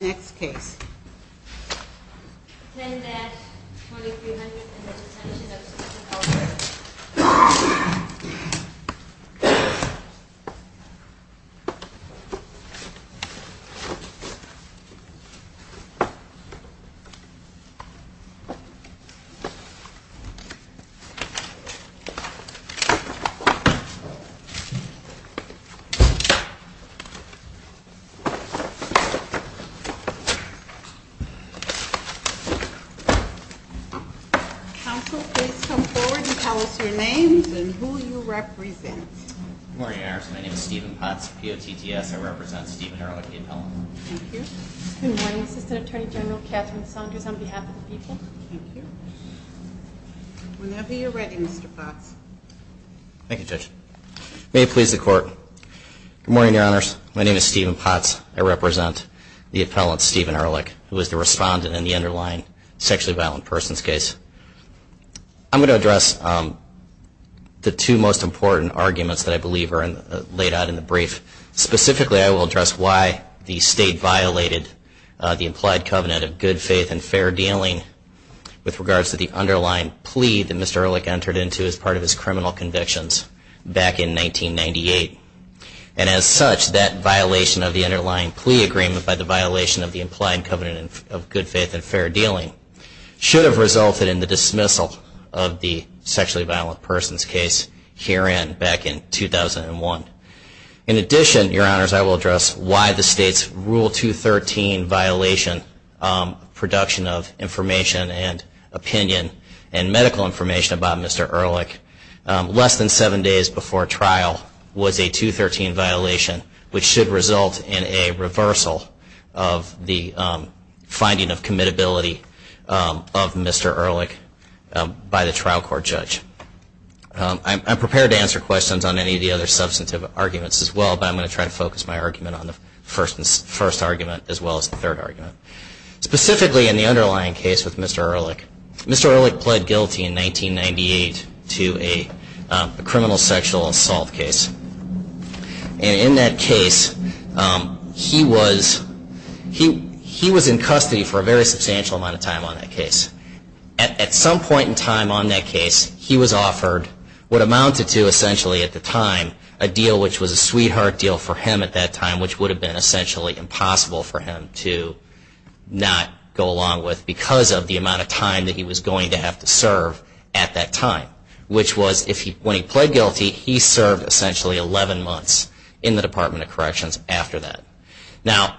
Next case, 10-F, 2300, and the Detention of Susan Ehrlich. Counsel, please come forward and tell us your name and who you represent. Good morning, Your Honors. My name is Stephen Potts, P-O-T-T-S. I represent Stephen Ehrlich, the appellant. Thank you. Good morning, Assistant Attorney General Catherine Saunders, on behalf of the people. Thank you. Whenever you're ready, Mr. Potts. Thank you, Judge. May it please the Court. Good morning, Your Honors. My name is Stephen Potts. I represent the appellant, Stephen Ehrlich, who is the respondent in the underlying sexually violent persons case. I'm going to address the two most important arguments that I believe are laid out in the brief. Specifically, I will address why the State violated the implied covenant of good faith and fair dealing with regards to the underlying plea that Mr. Ehrlich entered into as part of his criminal convictions back in 1998. And as such, that violation of the underlying plea agreement by the violation of the implied covenant of good faith and fair dealing should have resulted in the dismissal of the sexually violent persons case herein back in 2001. In addition, Your Honors, I will address why the State's Rule 213 violation of production of information and opinion and medical information about Mr. Ehrlich less than seven days before trial was a 213 violation, which should result in a reversal of the finding of commitability of Mr. Ehrlich by the trial court judge. I'm prepared to answer questions on any of the other substantive arguments as well, but I'm going to try to focus my argument on the first argument as well as the third argument. Specifically, in the underlying case with Mr. Ehrlich, Mr. Ehrlich pled guilty in 1998 to a criminal sexual assault case. And in that case, he was in custody for a very substantial amount of time on that case. At some point in time on that case, he was offered what amounted to, essentially at the time, a deal which was a sweetheart deal for him at that time, which would have been essentially impossible for him to not go along with because of the amount of time that he was going to have to serve at that time. Which was, when he pled guilty, he served essentially 11 months in the Department of Corrections after that. Now,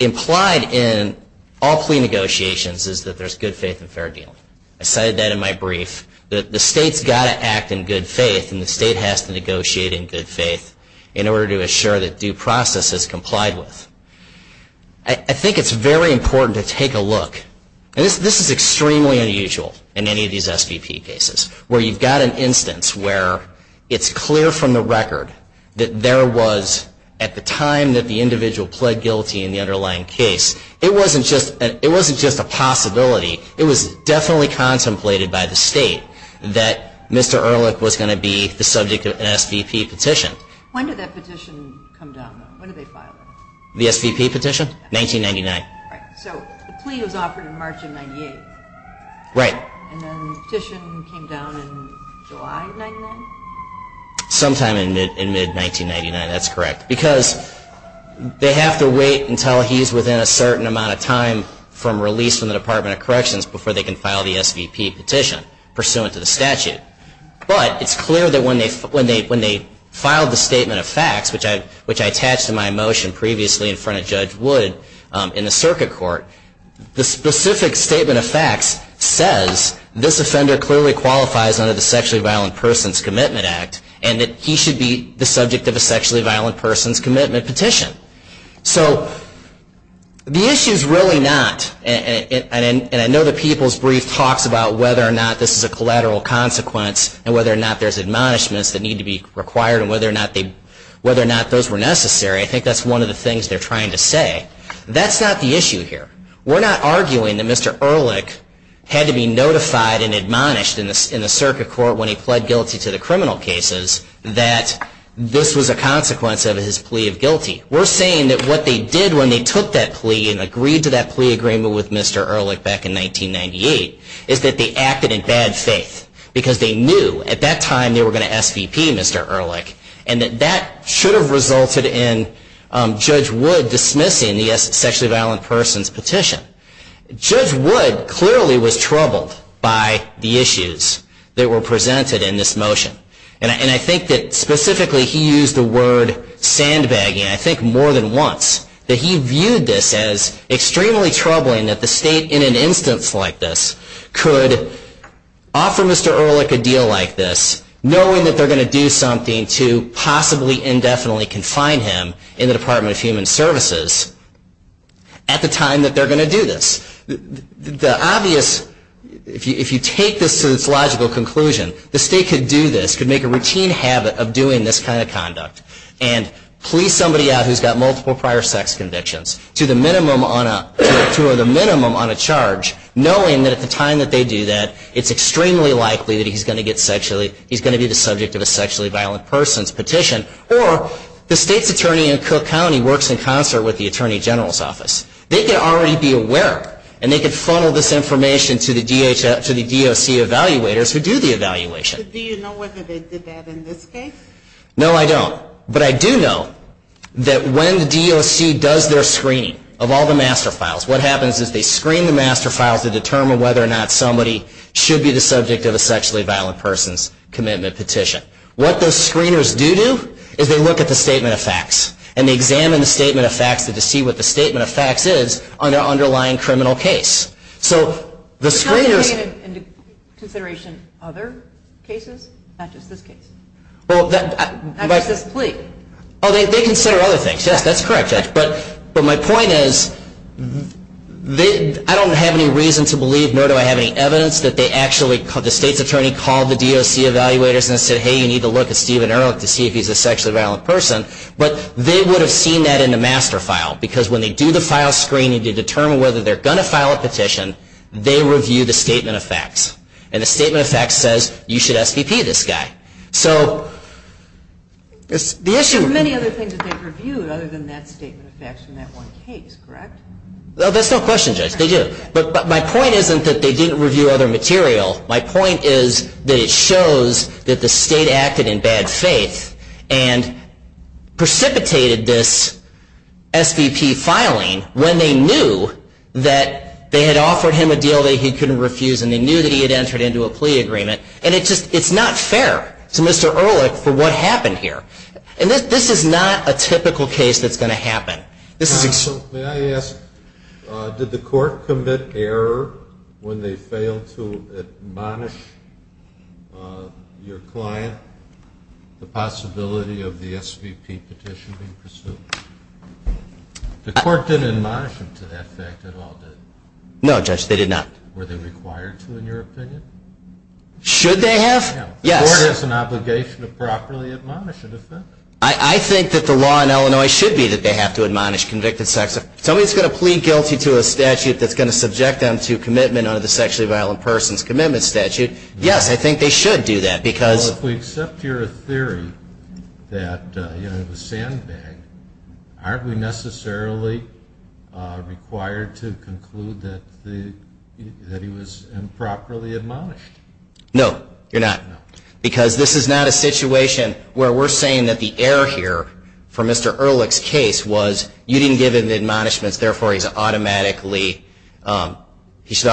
implied in all plea negotiations is that there's good faith and fair dealing. I cited that in my brief, that the state's got to act in good faith and the state has to negotiate in good faith in order to assure that due process is complied with. I think it's very important to take a look, and this is extremely unusual in any of these SVP cases, where you've got an instance where it's clear from the record that there was, at the time that the individual pled guilty in the underlying case, it wasn't just a possibility, it was definitely contemplated by the state that Mr. Ehrlich was going to be the subject of an SVP petition. When did that petition come down, though? When did they file it? The SVP petition? 1999. Right, so the plea was offered in March of 1998. Right. And then the petition came down in July of 1999? Sometime in mid-1999, that's correct. Because they have to wait until he's within a certain amount of time from release from the Department of Corrections before they can file the SVP petition, pursuant to the statute. But it's clear that when they filed the statement of facts, which I attached in my motion previously in front of Judge Wood in the circuit court, the specific statement of facts says, this offender clearly qualifies under the Sexually Violent Persons Commitment Act and that he should be the subject of a Sexually Violent Persons Commitment petition. So the issue is really not, and I know the People's Brief talks about whether or not this is a collateral consequence and whether or not there's admonishments that need to be required and whether or not those were necessary. I think that's one of the things they're trying to say. That's not the issue here. We're not arguing that Mr. Ehrlich had to be notified and admonished in the circuit court when he pled guilty to the criminal cases that this was a consequence of his plea of guilty. We're saying that what they did when they took that plea and agreed to that plea agreement with Mr. Ehrlich back in 1998 is that they acted in bad faith, because they knew at that time they were going to SVP Mr. Ehrlich and that that should have resulted in Judge Wood dismissing the Sexually Violent Persons petition. Judge Wood clearly was troubled by the issues that were presented in this motion. And I think that specifically he used the word sandbagging, I think more than once, that he viewed this as extremely troubling that the state in an instance like this could offer Mr. Ehrlich a deal like this knowing that they're going to do something to possibly indefinitely confine him in the Department of Human Services at the time that they're going to do this. The obvious, if you take this to its logical conclusion, the state could do this, could make a routine habit of doing this kind of conduct and plea somebody out who's got multiple prior sex convictions to the minimum on a charge, knowing that at the time that they do that, it's extremely likely that he's going to be the subject of a Sexually Violent Persons petition or the state's attorney in Cook County works in concert with the Attorney General's office. They could already be aware and they could funnel this information to the DOC evaluators who do the evaluation. Do you know whether they did that in this case? No, I don't. But I do know that when the DOC does their screening of all the master files, what happens is they screen the master files to determine whether or not somebody should be the subject of a Sexually Violent Persons commitment petition. What those screeners do do is they look at the statement of facts and they examine the statement of facts to see what the statement of facts is on their underlying criminal case. So the screeners... How do you take into consideration other cases, not just this case? Not just this plea? Oh, they consider other things. Yes, that's correct, Judge. But my point is I don't have any reason to believe, nor do I have any evidence, that the state's attorney called the DOC evaluators and said, hey, you need to look at Stephen Ehrlich to see if he's a sexually violent person. But they would have seen that in the master file because when they do the file screening to determine whether they're going to file a petition, they review the statement of facts. And the statement of facts says you should SVP this guy. There are many other things that they've reviewed other than that statement of facts from that one case, correct? No, that's no question, Judge. They do. But my point isn't that they didn't review other material. My point is that it shows that the state acted in bad faith and precipitated this SVP filing when they knew that they had offered him a deal that he couldn't refuse and they knew that he had entered into a plea agreement. And it's not fair to Mr. Ehrlich for what happened here. And this is not a typical case that's going to happen. May I ask, did the court commit error when they failed to admonish your client the possibility of the SVP petition being pursued? The court didn't admonish them to that effect at all, did it? No, Judge, they did not. Were they required to, in your opinion? Should they have? Yes. The court has an obligation to properly admonish a defendant. I think that the law in Illinois should be that they have to admonish convicted sex offenders. If somebody's going to plead guilty to a statute that's going to subject them to commitment under the Sexually Violent Persons Commitment Statute, yes, I think they should do that. Well, if we accept your theory that it was sandbagged, aren't we necessarily required to conclude that he was improperly admonished? No, you're not. Because this is not a situation where we're saying that the error here for Mr. Ehrlich's case was you didn't give him the admonishments, therefore he should automatically have this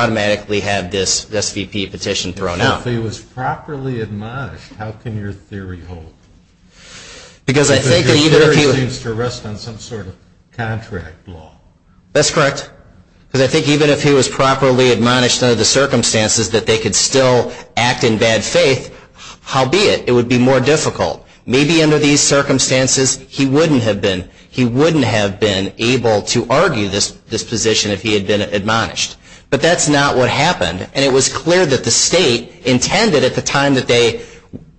SVP petition thrown out. If he was properly admonished, how can your theory hold? Because your theory seems to rest on some sort of contract law. That's correct. Because I think even if he was properly admonished under the circumstances that they could still act in bad faith, how be it? It would be more difficult. Maybe under these circumstances he wouldn't have been able to argue this position if he had been admonished. But that's not what happened, and it was clear that the state intended at the time that they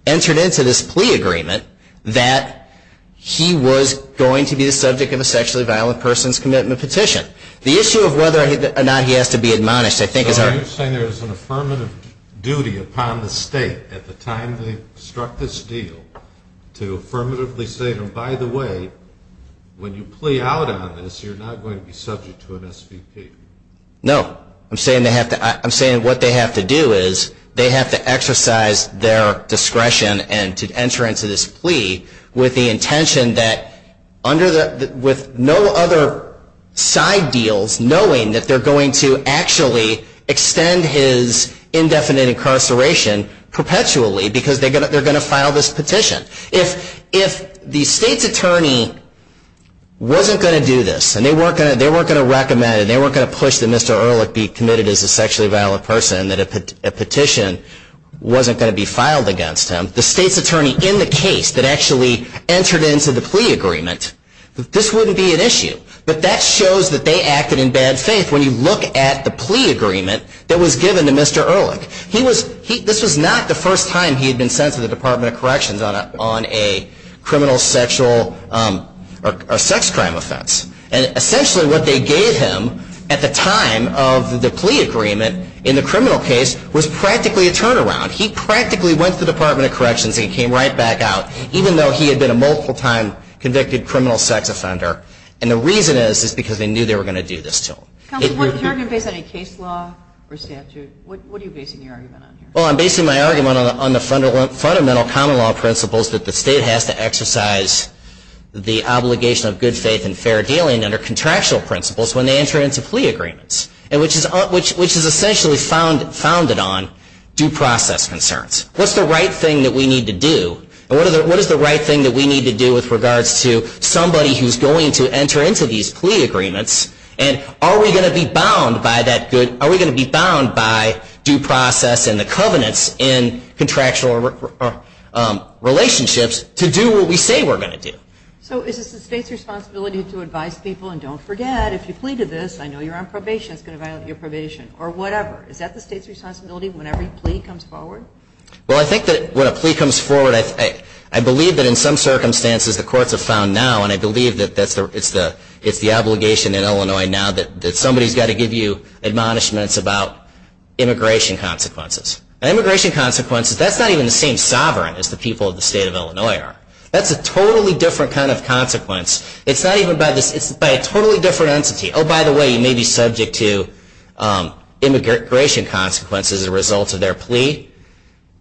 entered into this plea agreement that he was going to be the subject of a Sexually Violent Persons Commitment Petition. The issue of whether or not he has to be admonished, I think, I'm saying there's an affirmative duty upon the state at the time they struck this deal to affirmatively say, by the way, when you plea out on this, you're not going to be subject to an SVP. No. I'm saying what they have to do is they have to exercise their discretion and to enter into this plea with the intention that with no other side deals, knowing that they're going to actually extend his indefinite incarceration perpetually because they're going to file this petition. If the state's attorney wasn't going to do this and they weren't going to recommend it, they weren't going to push that Mr. Ehrlich be committed as a sexually violent person and that a petition wasn't going to be filed against him, the state's attorney in the case that actually entered into the plea agreement, this wouldn't be an issue. But that shows that they acted in bad faith when you look at the plea agreement that was given to Mr. Ehrlich. This was not the first time he had been sent to the Department of Corrections on a criminal sexual or sex crime offense. And essentially what they gave him at the time of the plea agreement in the criminal case was practically a turnaround. He practically went to the Department of Corrections and he came right back out, even though he had been a multiple-time convicted criminal sex offender. And the reason is because they knew they were going to do this to him. Counsel, if you're going to base any case law or statute, what are you basing your argument on here? Well, I'm basing my argument on the fundamental common law principles that the state has to exercise the obligation of good faith and fair dealing under contractual principles when they enter into plea agreements, which is essentially founded on due process concerns. What's the right thing that we need to do? And what is the right thing that we need to do with regards to somebody who's going to enter into these plea agreements? And are we going to be bound by due process and the covenants in contractual relationships to do what we say we're going to do? So is this the state's responsibility to advise people, and don't forget, if you plead to this, I know you're on probation, it's going to violate your probation, or whatever. Is that the state's responsibility whenever a plea comes forward? Well, I think that when a plea comes forward, I believe that in some circumstances, the courts have found now, and I believe that it's the obligation in Illinois now that somebody's got to give you admonishments about immigration consequences. And immigration consequences, that's not even the same sovereign as the people of the state of Illinois are. That's a totally different kind of consequence. It's not even by this, it's by a totally different entity. Oh, by the way, you may be subject to immigration consequences as a result of their plea,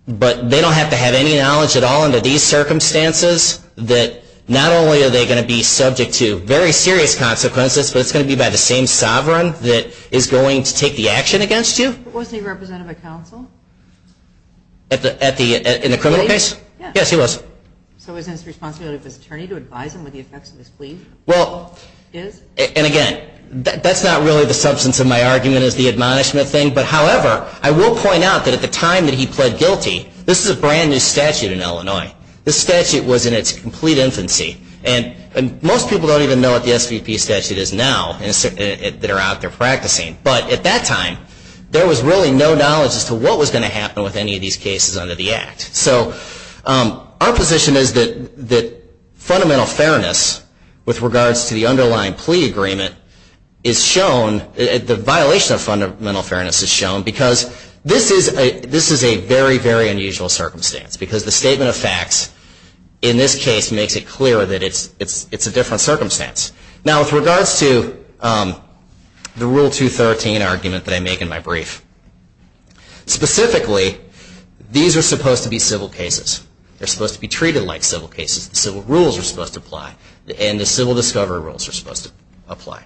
but they don't have to have any knowledge at all under these circumstances that not only are they going to be subject to very serious consequences, but it's going to be by the same sovereign that is going to take the action against you. Wasn't he represented by counsel? In the criminal case? Yes, he was. So isn't it the responsibility of this attorney to advise him of the effects of this plea? And again, that's not really the substance of my argument, even as the admonishment thing. But however, I will point out that at the time that he pled guilty, this is a brand new statute in Illinois. This statute was in its complete infancy. And most people don't even know what the SVP statute is now that are out there practicing. But at that time, there was really no knowledge as to what was going to happen with any of these cases under the Act. So our position is that fundamental fairness with regards to the underlying plea agreement is shown, the violation of fundamental fairness is shown, because this is a very, very unusual circumstance, because the statement of facts in this case makes it clear that it's a different circumstance. Now, with regards to the Rule 213 argument that I make in my brief, specifically, these are supposed to be civil cases. They're supposed to be treated like civil cases. The civil rules are supposed to apply. And the civil discovery rules are supposed to apply.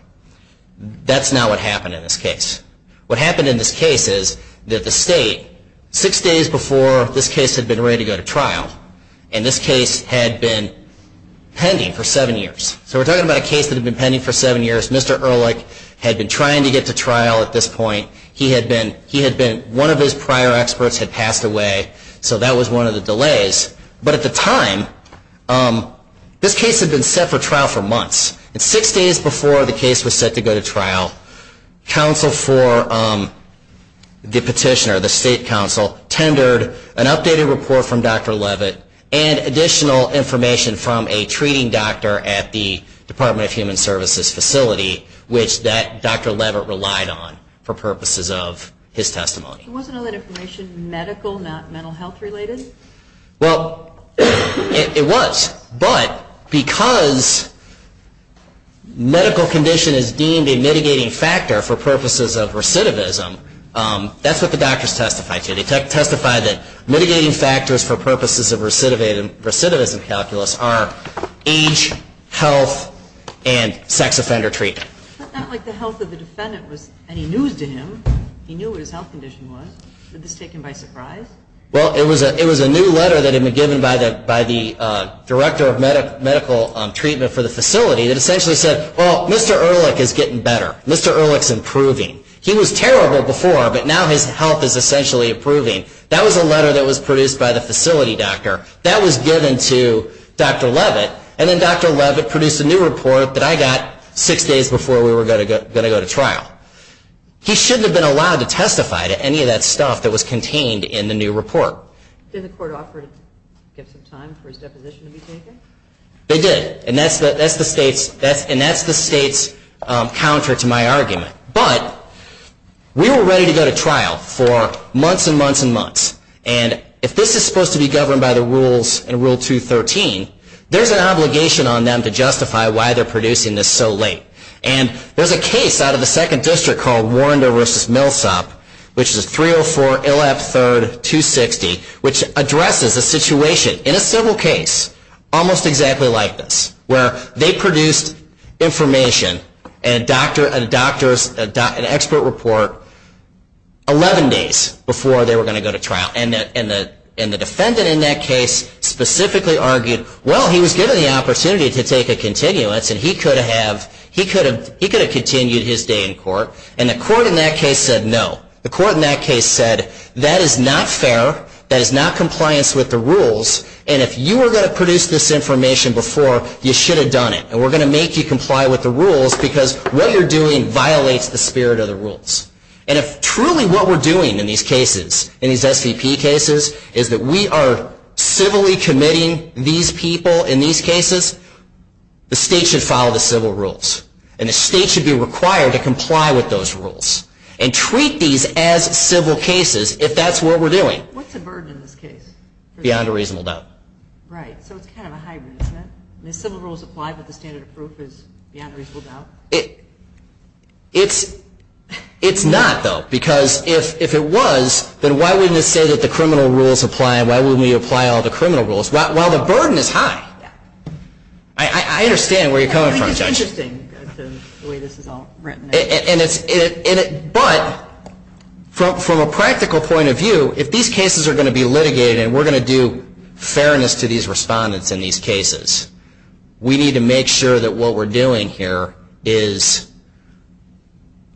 That's not what happened in this case. What happened in this case is that the state, six days before this case had been ready to go to trial, and this case had been pending for seven years. So we're talking about a case that had been pending for seven years. Mr. Ehrlich had been trying to get to trial at this point. One of his prior experts had passed away, so that was one of the delays. But at the time, this case had been set for trial for months. And six days before the case was set to go to trial, counsel for the petitioner, the state counsel, tendered an updated report from Dr. Levitt and additional information from a treating doctor at the Department of Human Services facility, which Dr. Levitt relied on for purposes of his testimony. Wasn't all that information medical, not mental health related? Well, it was. But because medical condition is deemed a mitigating factor for purposes of recidivism, that's what the doctors testified to. They testified that mitigating factors for purposes of recidivism calculus are age, health, and sex offender treatment. But not like the health of the defendant was any news to him. He knew what his health condition was. Was this taken by surprise? Well, it was a new letter that had been given by the director of medical treatment for the facility that essentially said, well, Mr. Ehrlich is getting better. Mr. Ehrlich is improving. He was terrible before, but now his health is essentially improving. That was a letter that was produced by the facility doctor. That was given to Dr. Levitt, and then Dr. Levitt produced a new report that I got six days before we were going to go to trial. He shouldn't have been allowed to testify to any of that stuff that was contained in the new report. Didn't the court offer to give some time for his deposition to be taken? They did, and that's the state's counter to my argument. But we were ready to go to trial for months and months and months. And if this is supposed to be governed by the rules in Rule 213, there's an obligation on them to justify why they're producing this so late. And there's a case out of the 2nd District called Warren v. Milsop, which is 304 LF 3rd 260, which addresses a situation in a civil case almost exactly like this, where they produced information, an expert report, 11 days before they were going to go to trial. And the defendant in that case specifically argued, well, he was given the opportunity to take a continuance, and he could have continued his day in court. And the court in that case said no. The court in that case said that is not fair, that is not compliance with the rules, and if you were going to produce this information before, you should have done it. And we're going to make you comply with the rules, because what you're doing violates the spirit of the rules. And if truly what we're doing in these cases, in these SVP cases, is that we are civilly committing these people in these cases, the state should follow the civil rules. And the state should be required to comply with those rules and treat these as civil cases if that's what we're doing. What's the burden in this case? Beyond a reasonable doubt. Right, so it's kind of a hybrid, isn't it? The civil rules apply, but the standard of proof is beyond a reasonable doubt? It's not, though, because if it was, then why wouldn't it say that the criminal rules apply, and why wouldn't we apply all the criminal rules? Well, the burden is high. I understand where you're coming from, Judge. I think it's interesting the way this is all written. But from a practical point of view, if these cases are going to be litigated and we're going to do fairness to these respondents in these cases, we need to make sure that what we're doing here is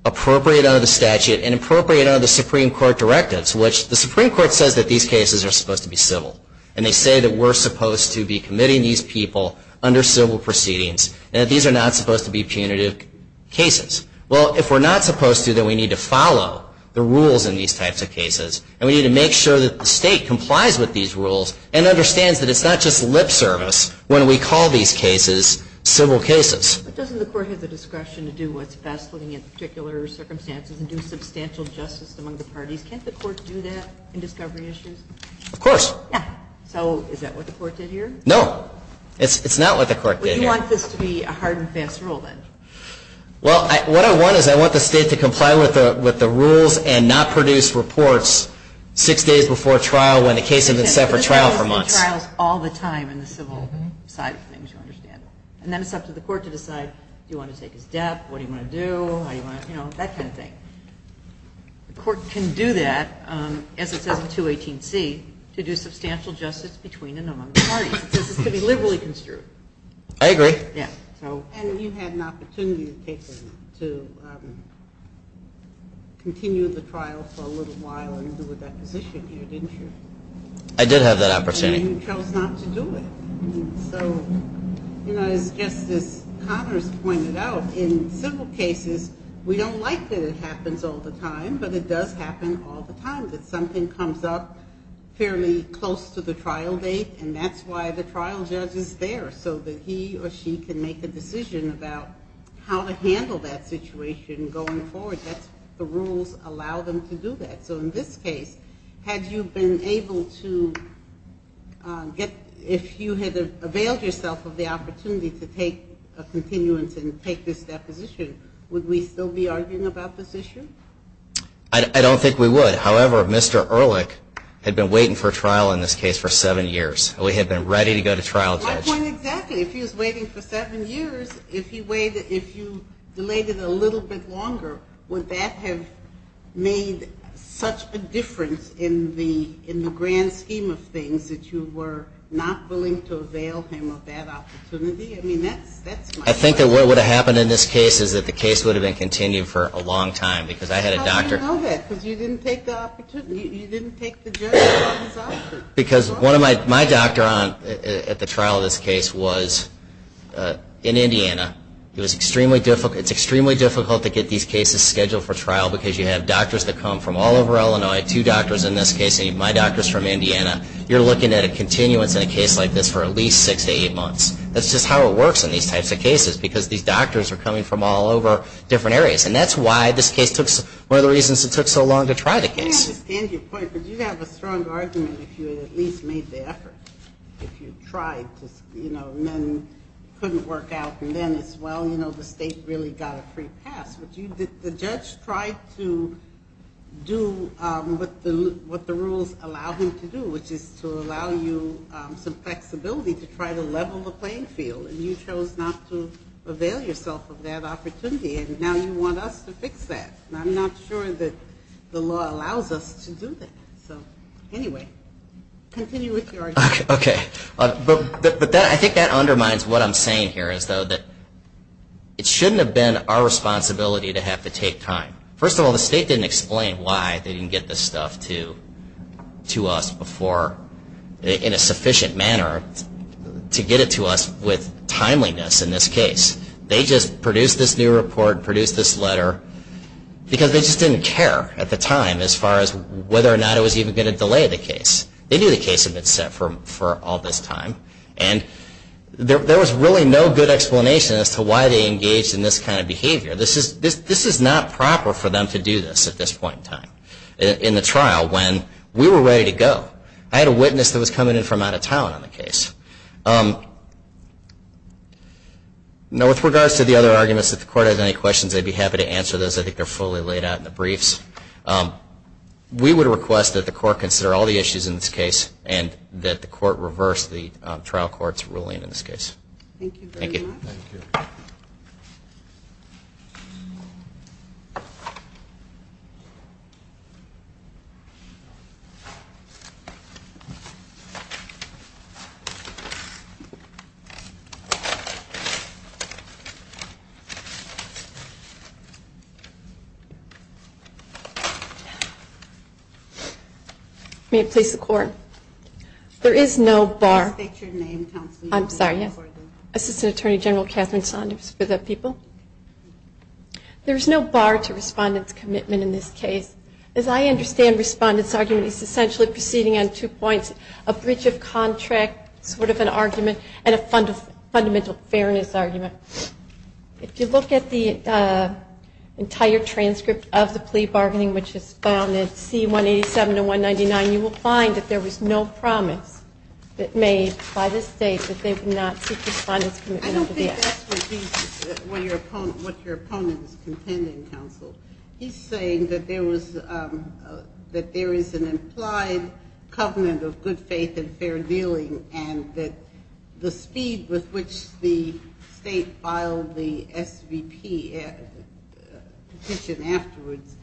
appropriate under the statute and appropriate under the Supreme Court directives, which the Supreme Court says that these cases are supposed to be civil. And they say that we're supposed to be committing these people under civil proceedings, and that these are not supposed to be punitive cases. Well, if we're not supposed to, then we need to follow the rules in these types of cases, and we need to make sure that the state complies with these rules and understands that it's not just lip service when we call these cases civil cases. But doesn't the Court have the discretion to do what's best looking at the particular circumstances and do substantial justice among the parties? Can't the Court do that in discovery issues? Of course. Yeah. So is that what the Court did here? No. It's not what the Court did here. Well, you want this to be a hard and fast rule, then? Well, what I want is I want the state to comply with the rules and not produce reports six days before trial when the case has been set for trial for months. But the state does these trials all the time in the civil side of things, you understand. And then it's up to the Court to decide, do you want to take his death, what do you want to do, how do you want to, you know, that kind of thing. The Court can do that, as it says in 218C, to do substantial justice between and among the parties. It says it's to be liberally construed. I agree. Yeah. And you had an opportunity to take him to continue the trial for a little while and do a deposition here, didn't you? I did have that opportunity. And you chose not to do it. So, you know, as Justice Connors pointed out, in civil cases we don't like that it happens all the time, but it does happen all the time, that something comes up fairly close to the trial date, and that's why the trial judge is there, so that he or she can make a decision about how to handle that situation going forward. That's the rules allow them to do that. So in this case, had you been able to get, if you had availed yourself of the opportunity to take a continuance and take this deposition, would we still be arguing about this issue? I don't think we would. However, Mr. Ehrlich had been waiting for trial, in this case, for seven years. We had been ready to go to trial. My point exactly. If he was waiting for seven years, if you delayed it a little bit longer, would that have made such a difference in the grand scheme of things, that you were not willing to avail him of that opportunity? I mean, that's my point. I think that what would have happened in this case is that the case would have been continued for a long time, because I had a doctor... How do you know that? Because you didn't take the opportunity, you didn't take the judge's offer. Because my doctor at the trial of this case was in Indiana. It's extremely difficult to get these cases scheduled for trial, because you have doctors that come from all over Illinois, two doctors in this case, and my doctor is from Indiana. You're looking at a continuance in a case like this for at least six to eight months. That's just how it works in these types of cases, because these doctors are coming from all over different areas. And that's why this case took... One of the reasons it took so long to try the case. I understand your point, but you'd have a strong argument if you had at least made the effort, if you tried to, you know, and then it couldn't work out, and then it's, well, you know, the state really got a free pass. But the judge tried to do what the rules allowed him to do, which is to allow you some flexibility to try to level the playing field. And you chose not to avail yourself of that opportunity. And now you want us to fix that. And I'm not sure that the law allows us to do that. So, anyway, continue with your argument. Okay. But I think that undermines what I'm saying here, as though that it shouldn't have been our responsibility to have to take time. First of all, the state didn't explain why they didn't get this stuff to us in a sufficient manner to get it to us with timeliness in this case. They just produced this new report, produced this letter, because they just didn't care at the time as far as whether or not it was even going to delay the case. They knew the case had been set for all this time. And there was really no good explanation as to why they engaged in this kind of behavior. This is not proper for them to do this at this point in time, in the trial, when we were ready to go. I had a witness that was coming in from out of town on the case. Now, with regards to the other arguments, if the court has any questions, I'd be happy to answer those. I think they're fully laid out in the briefs. We would request that the court consider all the issues in this case and that the court reverse the trial court's ruling in this case. Thank you very much. Thank you. Thank you. May it please the Court. There is no bar. Please state your name, counsel. I'm sorry. Assistant Attorney General Catherine Saunders for the people. There is no bar to respondent's commitment in this case. As I understand respondent's argument, it's essentially proceeding on two points, a bridge of contract sort of an argument, and a fundamental fairness argument. If you look at the entire transcript of the plea bargaining, which is found in C187 and 199, you will find that there was no promise made by the state that they would not seek respondent's commitment to the act. I don't think that's what your opponent is contending, counsel. He's saying that there is an implied covenant of good faith and fair dealing and that the speed with which the state filed the SVP petition afterwards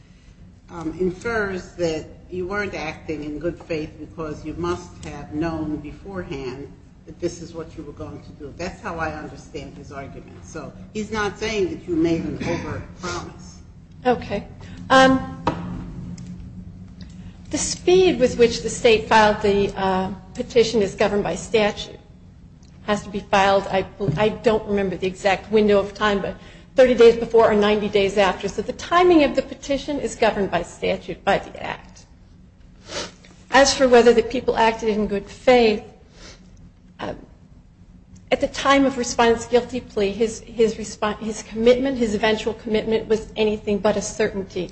infers that you weren't acting in good faith because you must have known beforehand that this is what you were going to do. That's how I understand his argument. So he's not saying that you made an over promise. Okay. The speed with which the state filed the petition is governed by statute. It has to be filed, I don't remember the exact window of time, but 30 days before or 90 days after. So the timing of the petition is governed by statute by the act. As for whether the people acted in good faith, at the time of respondent's guilty plea, his commitment, his eventual commitment, was anything but a certainty.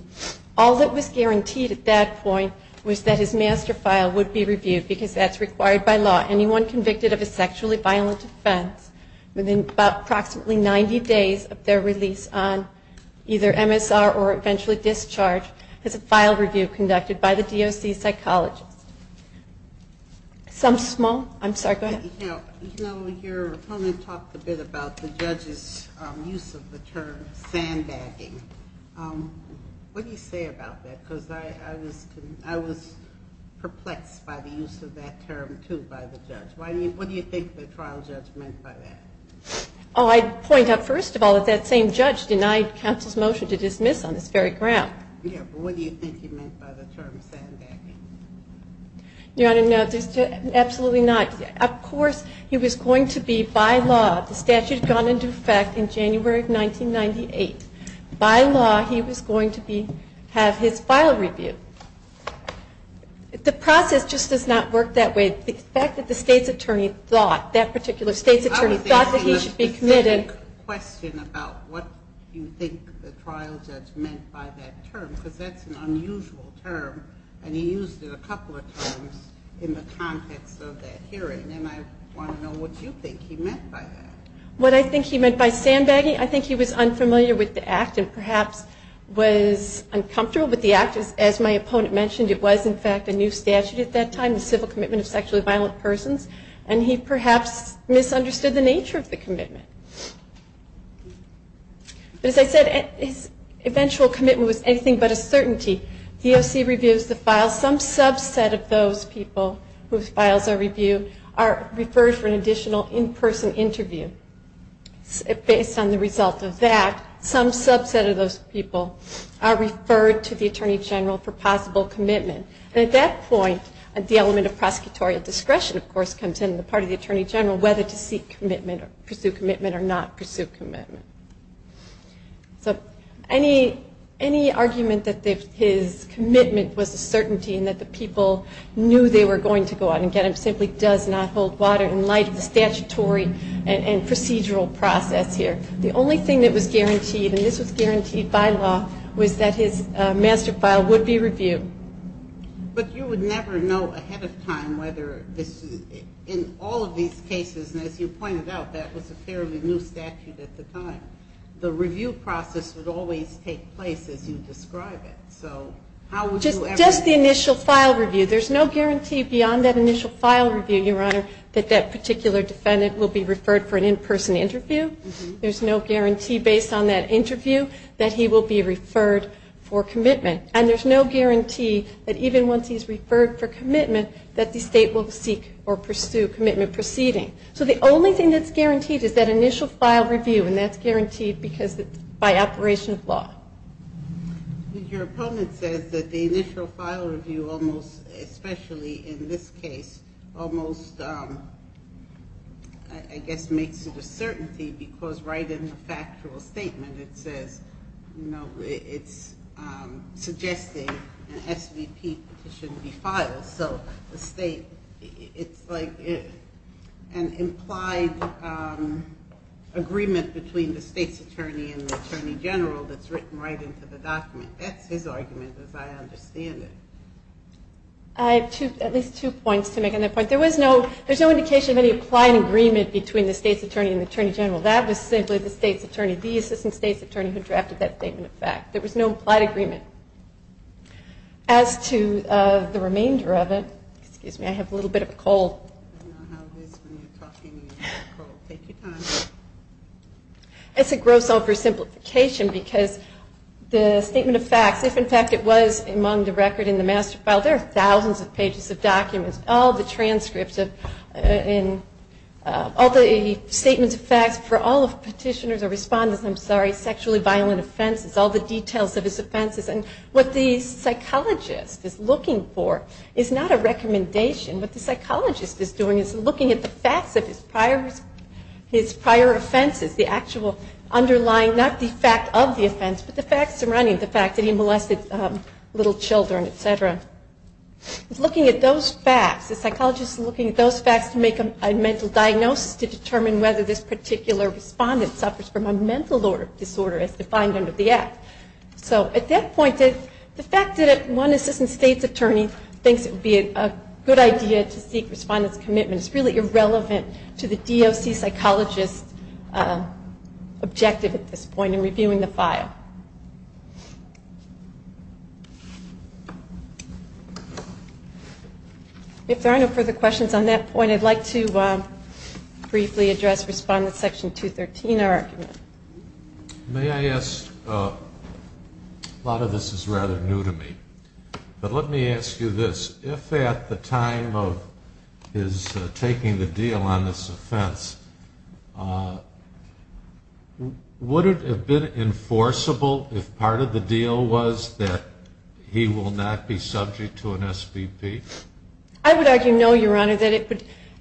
All that was guaranteed at that point was that his master file would be reviewed because that's required by law. Anyone convicted of a sexually violent offense within approximately 90 days of their release on either MSR or eventually discharge has a file review conducted by the DOC psychologist. Some small, I'm sorry, go ahead. You know, your opponent talked a bit about the judge's use of the term sandbagging. What do you say about that? Because I was perplexed by the use of that term, too, by the judge. What do you think the trial judge meant by that? Oh, I'd point out, first of all, that same judge denied counsel's motion to dismiss on this very ground. Yeah, but what do you think he meant by the term sandbagging? Your Honor, no, absolutely not. Of course, he was going to be, by law, the statute had gone into effect in January of 1998. By law, he was going to have his file reviewed. The process just does not work that way. The fact that the state's attorney thought, I was asking a specific question about what you think the trial judge meant by that term because that's an unusual term, and he used it a couple of times in the context of that hearing, and I want to know what you think he meant by that. What I think he meant by sandbagging, I think he was unfamiliar with the Act and perhaps was uncomfortable with the Act. As my opponent mentioned, it was, in fact, a new statute at that time, the Civil Commitment of Sexually Violent Persons, and he perhaps misunderstood the nature of the commitment. As I said, his eventual commitment was anything but a certainty. The O.C. reviews the files. Some subset of those people whose files are reviewed are referred for an additional in-person interview. Based on the result of that, some subset of those people are referred to the Attorney General for possible commitment. At that point, the element of prosecutorial discretion, of course, comes in on the part of the Attorney General whether to pursue commitment or not pursue commitment. Any argument that his commitment was a certainty and that the people knew they were going to go out and get him simply does not hold water in light of the statutory and procedural process here. The only thing that was guaranteed, and this was guaranteed by law, was that his master file would be reviewed. But you would never know ahead of time whether in all of these cases, and as you pointed out, that was a fairly new statute at the time, the review process would always take place as you describe it. Just the initial file review. There's no guarantee beyond that initial file review, Your Honor, that that particular defendant will be referred for an in-person interview. There's no guarantee based on that interview that he will be referred for commitment. And there's no guarantee that even once he's referred for commitment that the state will seek or pursue commitment proceeding. So the only thing that's guaranteed is that initial file review, and that's guaranteed because it's by operation of law. Your opponent says that the initial file review almost, especially in this case, almost I guess makes it a certainty because right in the factual statement it says, you know, it's suggesting an SVP petition be filed. So the state, it's like an implied agreement between the state's attorney and the attorney general that's written right into the document. That's his argument as I understand it. I have two, at least two points to make on that point. There was no, there's no indication of any implied agreement between the state's attorney and the attorney general. That was simply the state's attorney, the assistant state's attorney, who drafted that statement of fact. There was no implied agreement. As to the remainder of it, excuse me, I have a little bit of a cold. It's a gross oversimplification because the statement of facts, if in fact it was among the record in the master file, there are thousands of pages of documents, all the transcripts and all the statements of facts for all of petitioners or respondents, I'm sorry, sexually violent offenses, all the details of his offenses. And what the psychologist is looking for is not a recommendation. What the psychologist is doing is looking at the facts of his prior offenses, the actual underlying, not the fact of the offense, but the facts surrounding the fact that he molested little children, etc. He's looking at those facts, the psychologist is looking at those facts to make a mental diagnosis to determine whether this particular respondent suffers from a mental disorder as defined under the act. So at that point, the fact that one assistant state's attorney thinks it would be a good idea to seek respondents' commitment is really irrelevant to the DOC psychologist's objective at this point in reviewing the file. If there are no further questions on that point, I'd like to briefly address Respondent Section 213, our argument. May I ask, a lot of this is rather new to me, but let me ask you this. If at the time of his taking the deal on this offense, would it have been enforceable if part of the deal was that he will not be subject to an SVP? I would argue no, Your Honor.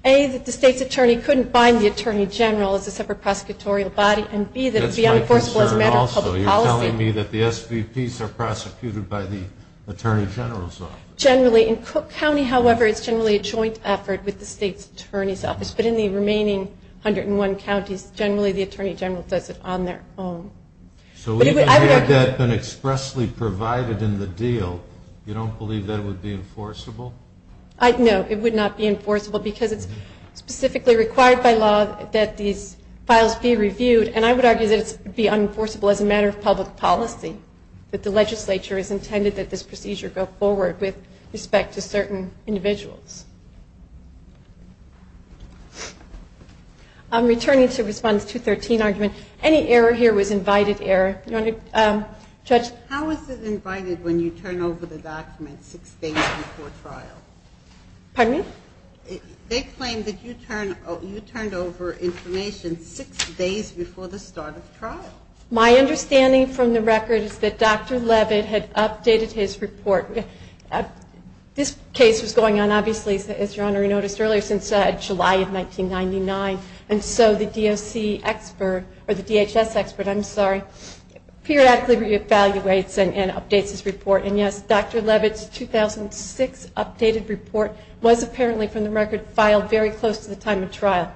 A, that the state's attorney couldn't bind the attorney general as a separate prosecutorial body, and B, that it would be unenforceable as a matter of public policy. You're telling me that the SVPs are prosecuted by the attorney general's office. Generally, in Cook County, however, it's generally a joint effort with the state's attorney's office. But in the remaining 101 counties, generally the attorney general does it on their own. So even had that been expressly provided in the deal, you don't believe that it would be enforceable? No, it would not be enforceable because it's specifically required by law that these files be reviewed. And I would argue that it would be unenforceable as a matter of public policy, that the legislature has intended that this procedure go forward with respect to certain individuals. I'm returning to Respondent 213's argument. Any error here was invited error. Judge? How is it invited when you turn over the document six days before trial? Pardon me? They claim that you turned over information six days before the start of trial. My understanding from the record is that Dr. Levitt had updated his report. This case was going on, obviously, as Your Honor noticed earlier, since July of 1999. And so the DOC expert, or the DHS expert, I'm sorry, periodically re-evaluates and updates his report. And, yes, Dr. Levitt's 2006 updated report was apparently from the record filed very close to the time of trial.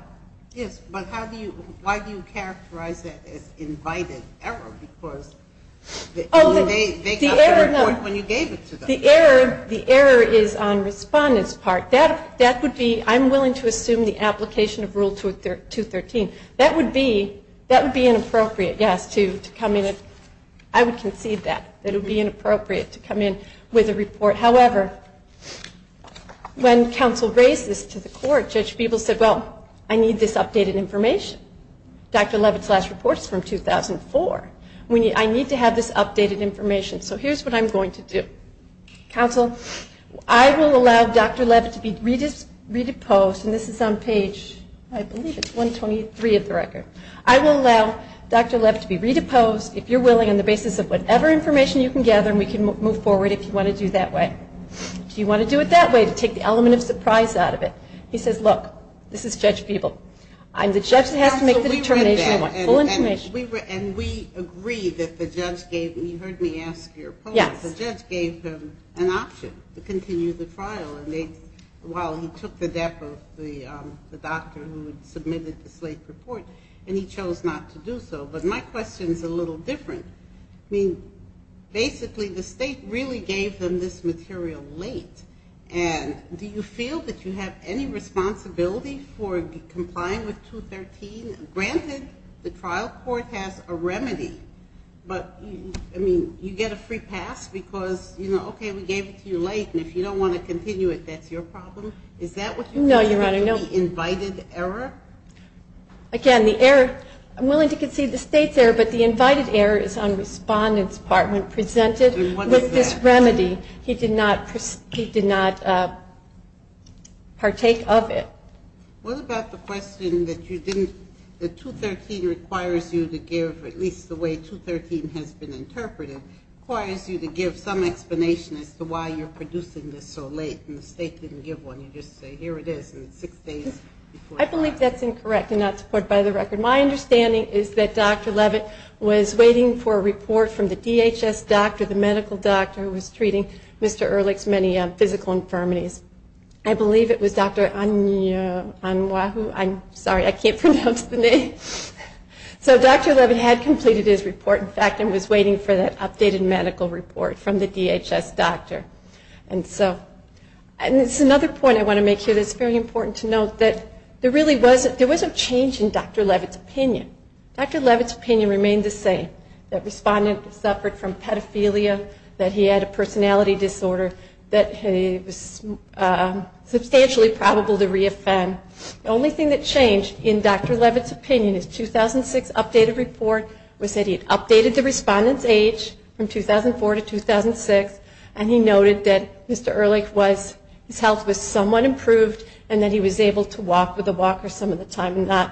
Yes, but how do you, why do you characterize that as invited error? Because they got the report when you gave it to them. The error is on Respondent's part. That would be, I'm willing to assume the application of Rule 213. That would be inappropriate, yes, to come in. I would concede that it would be inappropriate to come in with a report. However, when counsel raised this to the court, Judge Beeble said, well, I need this updated information. Dr. Levitt's last report is from 2004. I need to have this updated information. So here's what I'm going to do. Counsel, I will allow Dr. Levitt to be redeposed, and this is on page, I believe it's 123 of the record. I will allow Dr. Levitt to be redeposed, if you're willing, on the basis of whatever information you can gather, and we can move forward if you want to do it that way. If you want to do it that way, to take the element of surprise out of it. He says, look, this is Judge Beeble. I'm the judge that has to make the determination I want. Full information. And we agree that the judge gave, you heard me ask your point. Yes. The judge gave him an option to continue the trial while he took the death of the doctor who had submitted the slave report, and he chose not to do so. But my question is a little different. I mean, basically the state really gave them this material late, and do you feel that you have any responsibility for complying with 213? Granted, the trial court has a remedy, but, I mean, you get a free pass because, you know, okay, we gave it to you late, and if you don't want to continue it, that's your problem. Is that what you're saying? No, Your Honor, no. The invited error? Again, the error, I'm willing to concede the state's error, but the invited error is on Respondent's part when presented with this remedy. He did not partake of it. What about the question that you didn't, that 213 requires you to give, at least the way 213 has been interpreted, requires you to give some explanation as to why you're producing this so late, and the state didn't give one. Can you just say, here it is, and it's six days before the trial? I believe that's incorrect, and not to put it by the record. My understanding is that Dr. Levitt was waiting for a report from the DHS doctor, the medical doctor who was treating Mr. Ehrlich's many physical infirmities. I believe it was Dr. Anwahoo. I'm sorry, I can't pronounce the name. So Dr. Levitt had completed his report, in fact, and was waiting for that updated medical report from the DHS doctor. And it's another point I want to make here that's very important to note, that there really wasn't change in Dr. Levitt's opinion. Dr. Levitt's opinion remained the same, that Respondent suffered from pedophilia, that he had a personality disorder, that he was substantially probable to re-offend. The only thing that changed in Dr. Levitt's opinion, his 2006 updated report, was that he had updated the Respondent's age from 2004 to 2006, and he noted that Mr. Ehrlich was, his health was somewhat improved, and that he was able to walk with a walker some of the time, and not,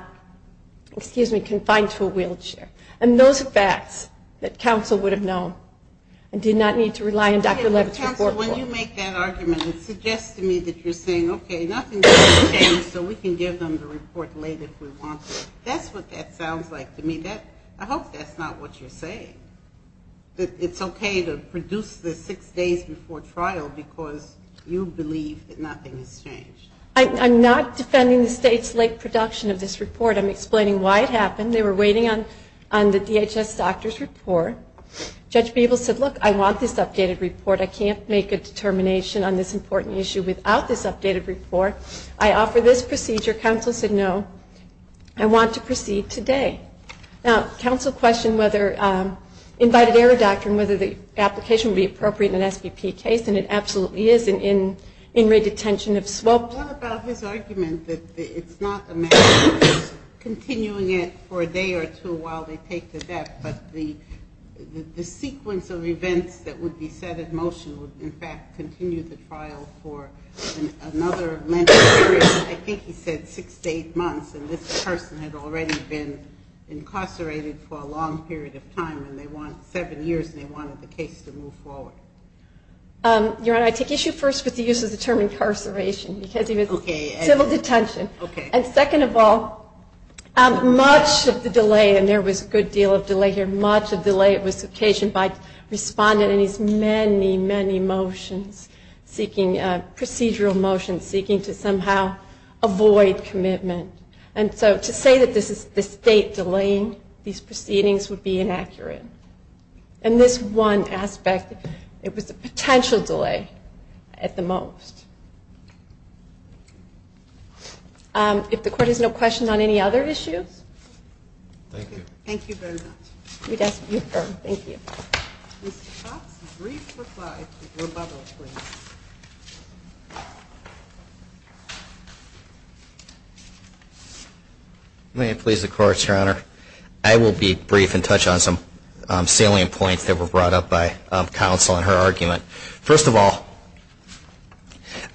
excuse me, confined to a wheelchair. And those are facts that counsel would have known, and did not need to rely on Dr. Levitt's report. Counsel, when you make that argument, it suggests to me that you're saying, okay, nothing's changed, so we can give them the report later if we want to. That's what that sounds like to me. I hope that's not what you're saying, that it's okay to produce this six days before trial, because you believe that nothing has changed. I'm not defending the state's late production of this report. I'm explaining why it happened. They were waiting on the DHS doctor's report. Judge Beeble said, look, I want this updated report. I can't make a determination on this important issue without this updated report. I offer this procedure. Counsel said, no, I want to proceed today. Okay. Now, counsel questioned whether invited error doctrine, whether the application would be appropriate in an SBP case, and it absolutely is an in-rate detention of swabs. What about his argument that it's not a matter of continuing it for a day or two while they take the death, but the sequence of events that would be set at motion would, in fact, continue the trial for another length of time, I think he said six to eight months, and this person had already been incarcerated for a long period of time, and they wanted seven years, and they wanted the case to move forward. Your Honor, I take issue first with the use of the term incarceration, because he was in civil detention. Okay. And second of all, much of the delay, and there was a good deal of delay here, much of the delay was occasioned by respondent in his many, many motions, seeking procedural motions, seeking to somehow avoid commitment. And so to say that this is the state delaying these proceedings would be inaccurate. And this one aspect, it was a potential delay at the most. If the Court has no questions on any other issues. Thank you. Thank you very much. We'd ask you to defer. Thank you. Mr. Potts, a brief reply to your mother, please. May it please the Courts, Your Honor. I will be brief and touch on some salient points that were brought up by counsel in her argument. First of all,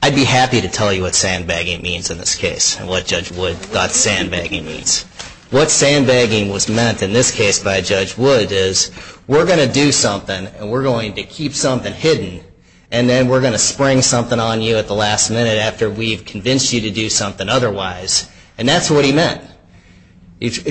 I'd be happy to tell you what sandbagging means in this case, and what Judge Wood thought sandbagging means. What sandbagging was meant in this case by Judge Wood is we're going to do something and we're going to keep something hidden, and then we're going to spring something on you at the last minute after we've convinced you to do something otherwise. And that's what he meant. It's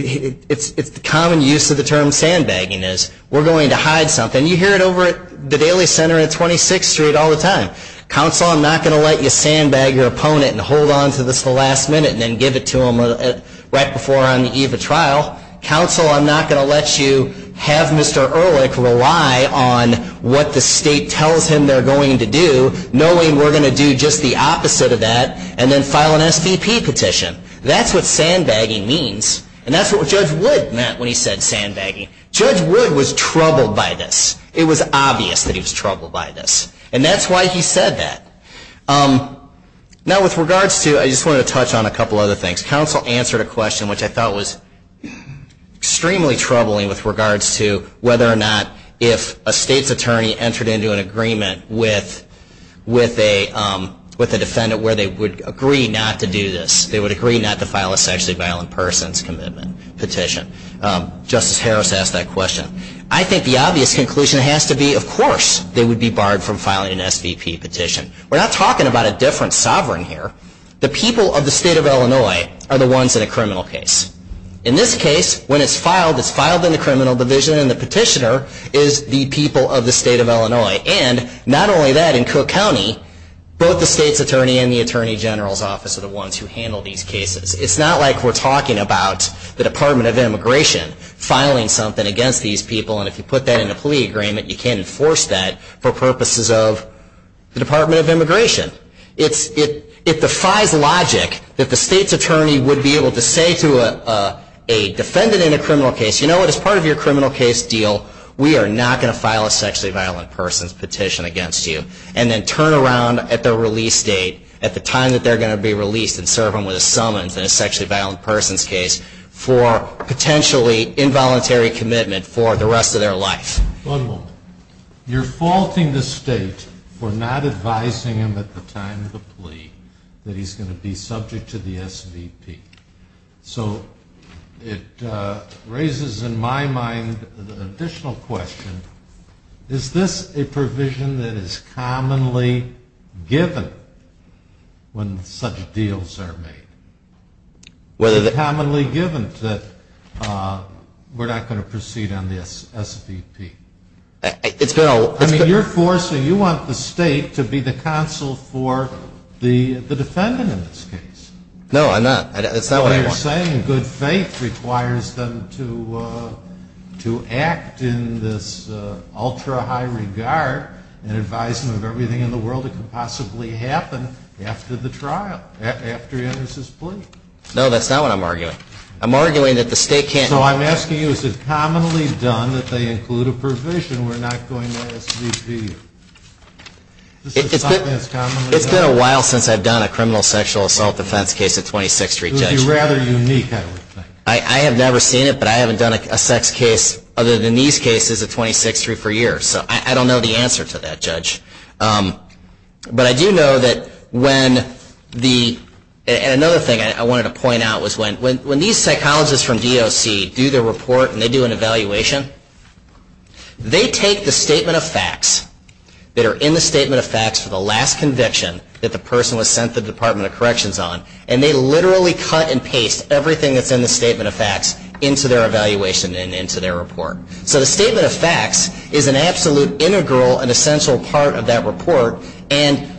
the common use of the term sandbagging is we're going to hide something. You hear it over at the Daily Center and at 26th Street all the time. Counsel, I'm not going to let you sandbag your opponent and hold on to this at the last minute and then give it to him right before on the eve of trial. Counsel, I'm not going to let you have Mr. Ehrlich rely on what the state tells him they're going to do, knowing we're going to do just the opposite of that, and then file an SVP petition. That's what sandbagging means. And that's what Judge Wood meant when he said sandbagging. Judge Wood was troubled by this. It was obvious that he was troubled by this. And that's why he said that. Now, with regards to, I just wanted to touch on a couple other things. Counsel answered a question which I thought was extremely troubling with regards to whether or not if a state's attorney entered into an agreement with a defendant where they would agree not to do this. They would agree not to file a sexually violent person's commitment petition. Justice Harris asked that question. I think the obvious conclusion has to be, of course, they would be barred from filing an SVP petition. We're not talking about a different sovereign here. The people of the state of Illinois are the ones in a criminal case. In this case, when it's filed, it's filed in the criminal division, and the petitioner is the people of the state of Illinois. And not only that, in Cook County, both the state's attorney and the Attorney General's Office are the ones who handle these cases. It's not like we're talking about the Department of Immigration filing something against these people, and if you put that in a plea agreement, you can't enforce that for purposes of the Department of Immigration. It defies logic that the state's attorney would be able to say to a defendant in a criminal case, you know what, as part of your criminal case deal, we are not going to file a sexually violent person's petition against you, and then turn around at the release date, at the time that they're going to be released and serve them with a summons in a sexually violent person's case for potentially involuntary commitment for the rest of their life. One moment. You're faulting the state for not advising him at the time of the plea that he's going to be subject to the SVP. So it raises in my mind an additional question. Is this a provision that is commonly given when such deals are made? Is it commonly given that we're not going to proceed on the SVP? I mean, you're forcing, you want the state to be the counsel for the defendant in this case. No, I'm not. That's not what I want. What you're saying, good faith requires them to act in this ultra-high regard and advise him of everything in the world that could possibly happen after the trial, after Ennis's plea? No, that's not what I'm arguing. I'm arguing that the state can't So I'm asking you, is it commonly done that they include a provision we're not going to SVP? It's been a while since I've done a criminal sexual assault defense case at 26th Street, Judge. It would be rather unique, I would think. I have never seen it, but I haven't done a sex case other than these cases at 26th Street for years. So I don't know the answer to that, Judge. But I do know that when the, and another thing I wanted to point out was when these psychologists from DOC do their report and they do an evaluation, they take the statement of facts that are in the statement of facts for the last conviction that the person was sent to the Department of Corrections on, and they literally cut and paste everything that's in the statement of facts into their evaluation and into their report. So the statement of facts is an absolute integral and essential part of that report, and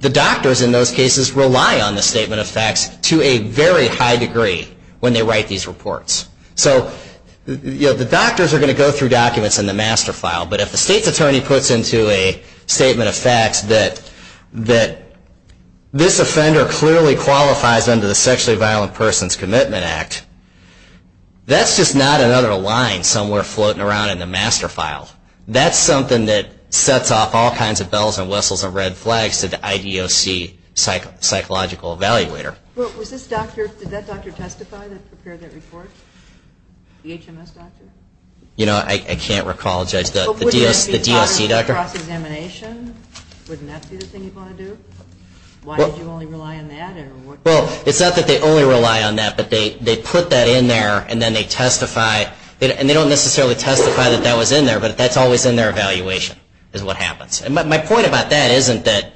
the doctors in those cases rely on the statement of facts to a very high degree when they write these reports. So the doctors are going to go through documents in the master file, but if the state's attorney puts into a statement of facts that this offender clearly qualifies under the Sexually Violent Persons Commitment Act, that's just not another line somewhere floating around in the master file. That's something that sets off all kinds of bells and whistles and red flags to the IDOC psychological evaluator. Well, was this doctor, did that doctor testify that prepared that report? The HMS doctor? You know, I can't recall, Judge. But wouldn't that be part of the cross-examination? Wouldn't that be the thing you'd want to do? Why did you only rely on that? Well, it's not that they only rely on that, but they put that in there and then they testify. And they don't necessarily testify that that was in there, but that's always in their evaluation is what happens. My point about that is that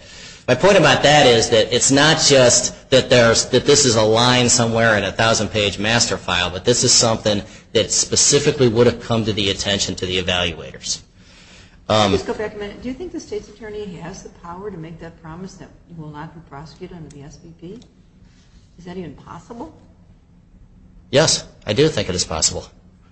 it's not just that this is a line somewhere in a 1,000-page master file, but this is something that specifically would have come to the attention to the evaluators. Do you think the state's attorney has the power to make that promise that you will not be prosecuted under the SVP? Is that even possible? Yes, I do think it is possible.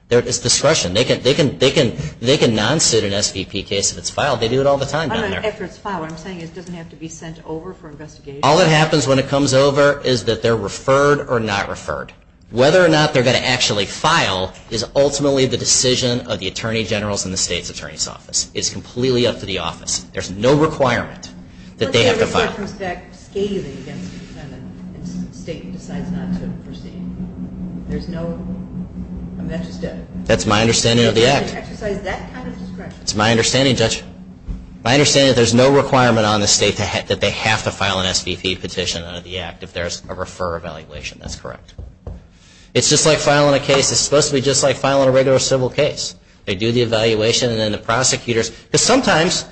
It's discretion. They can non-suit an SVP case if it's filed. They do it all the time down there. After it's filed, what I'm saying is it doesn't have to be sent over for investigation. All that happens when it comes over is that they're referred or not referred. Whether or not they're going to actually file is ultimately the decision of the attorney general's and the state's attorney's office. It's completely up to the office. There's no requirement that they have to file. What if they refer it from a stack, scaling against the defendant, and the state decides not to proceed? There's no... That's my understanding of the Act. They have to exercise that kind of discretion. That's my understanding, Judge. My understanding is that there's no requirement on the state that they have to file an SVP petition under the Act if there's a refer evaluation. That's correct. It's just like filing a case. It's supposed to be just like filing a regular civil case. They do the evaluation, and then the prosecutors... Because sometimes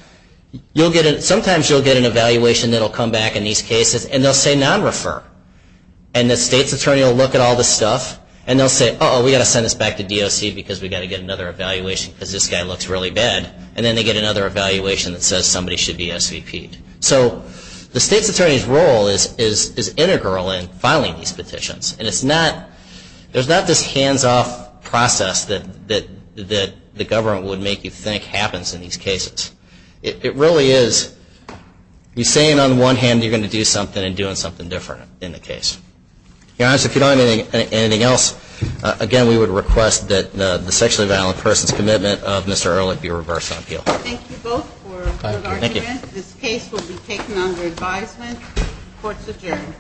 you'll get an evaluation that will come back in these cases, and they'll say non-refer. And the state's attorney will look at all this stuff, and they'll say, uh-oh, we've got to send this back to DOC because we've got to get another evaluation because this guy looks really bad. And then they get another evaluation that says somebody should be SVP'd. So the state's attorney's role is integral in filing these petitions. And it's not... There's not this hands-off process that the government would make you think that happens in these cases. It really is you saying on the one hand you're going to do something and doing something different in the case. Your Honor, if you don't have anything else, again, we would request that the sexually violent person's commitment of Mr. Ehrlich be reversed on appeal. Thank you both for your argument. This case will be taken under advisement. Court's adjourned.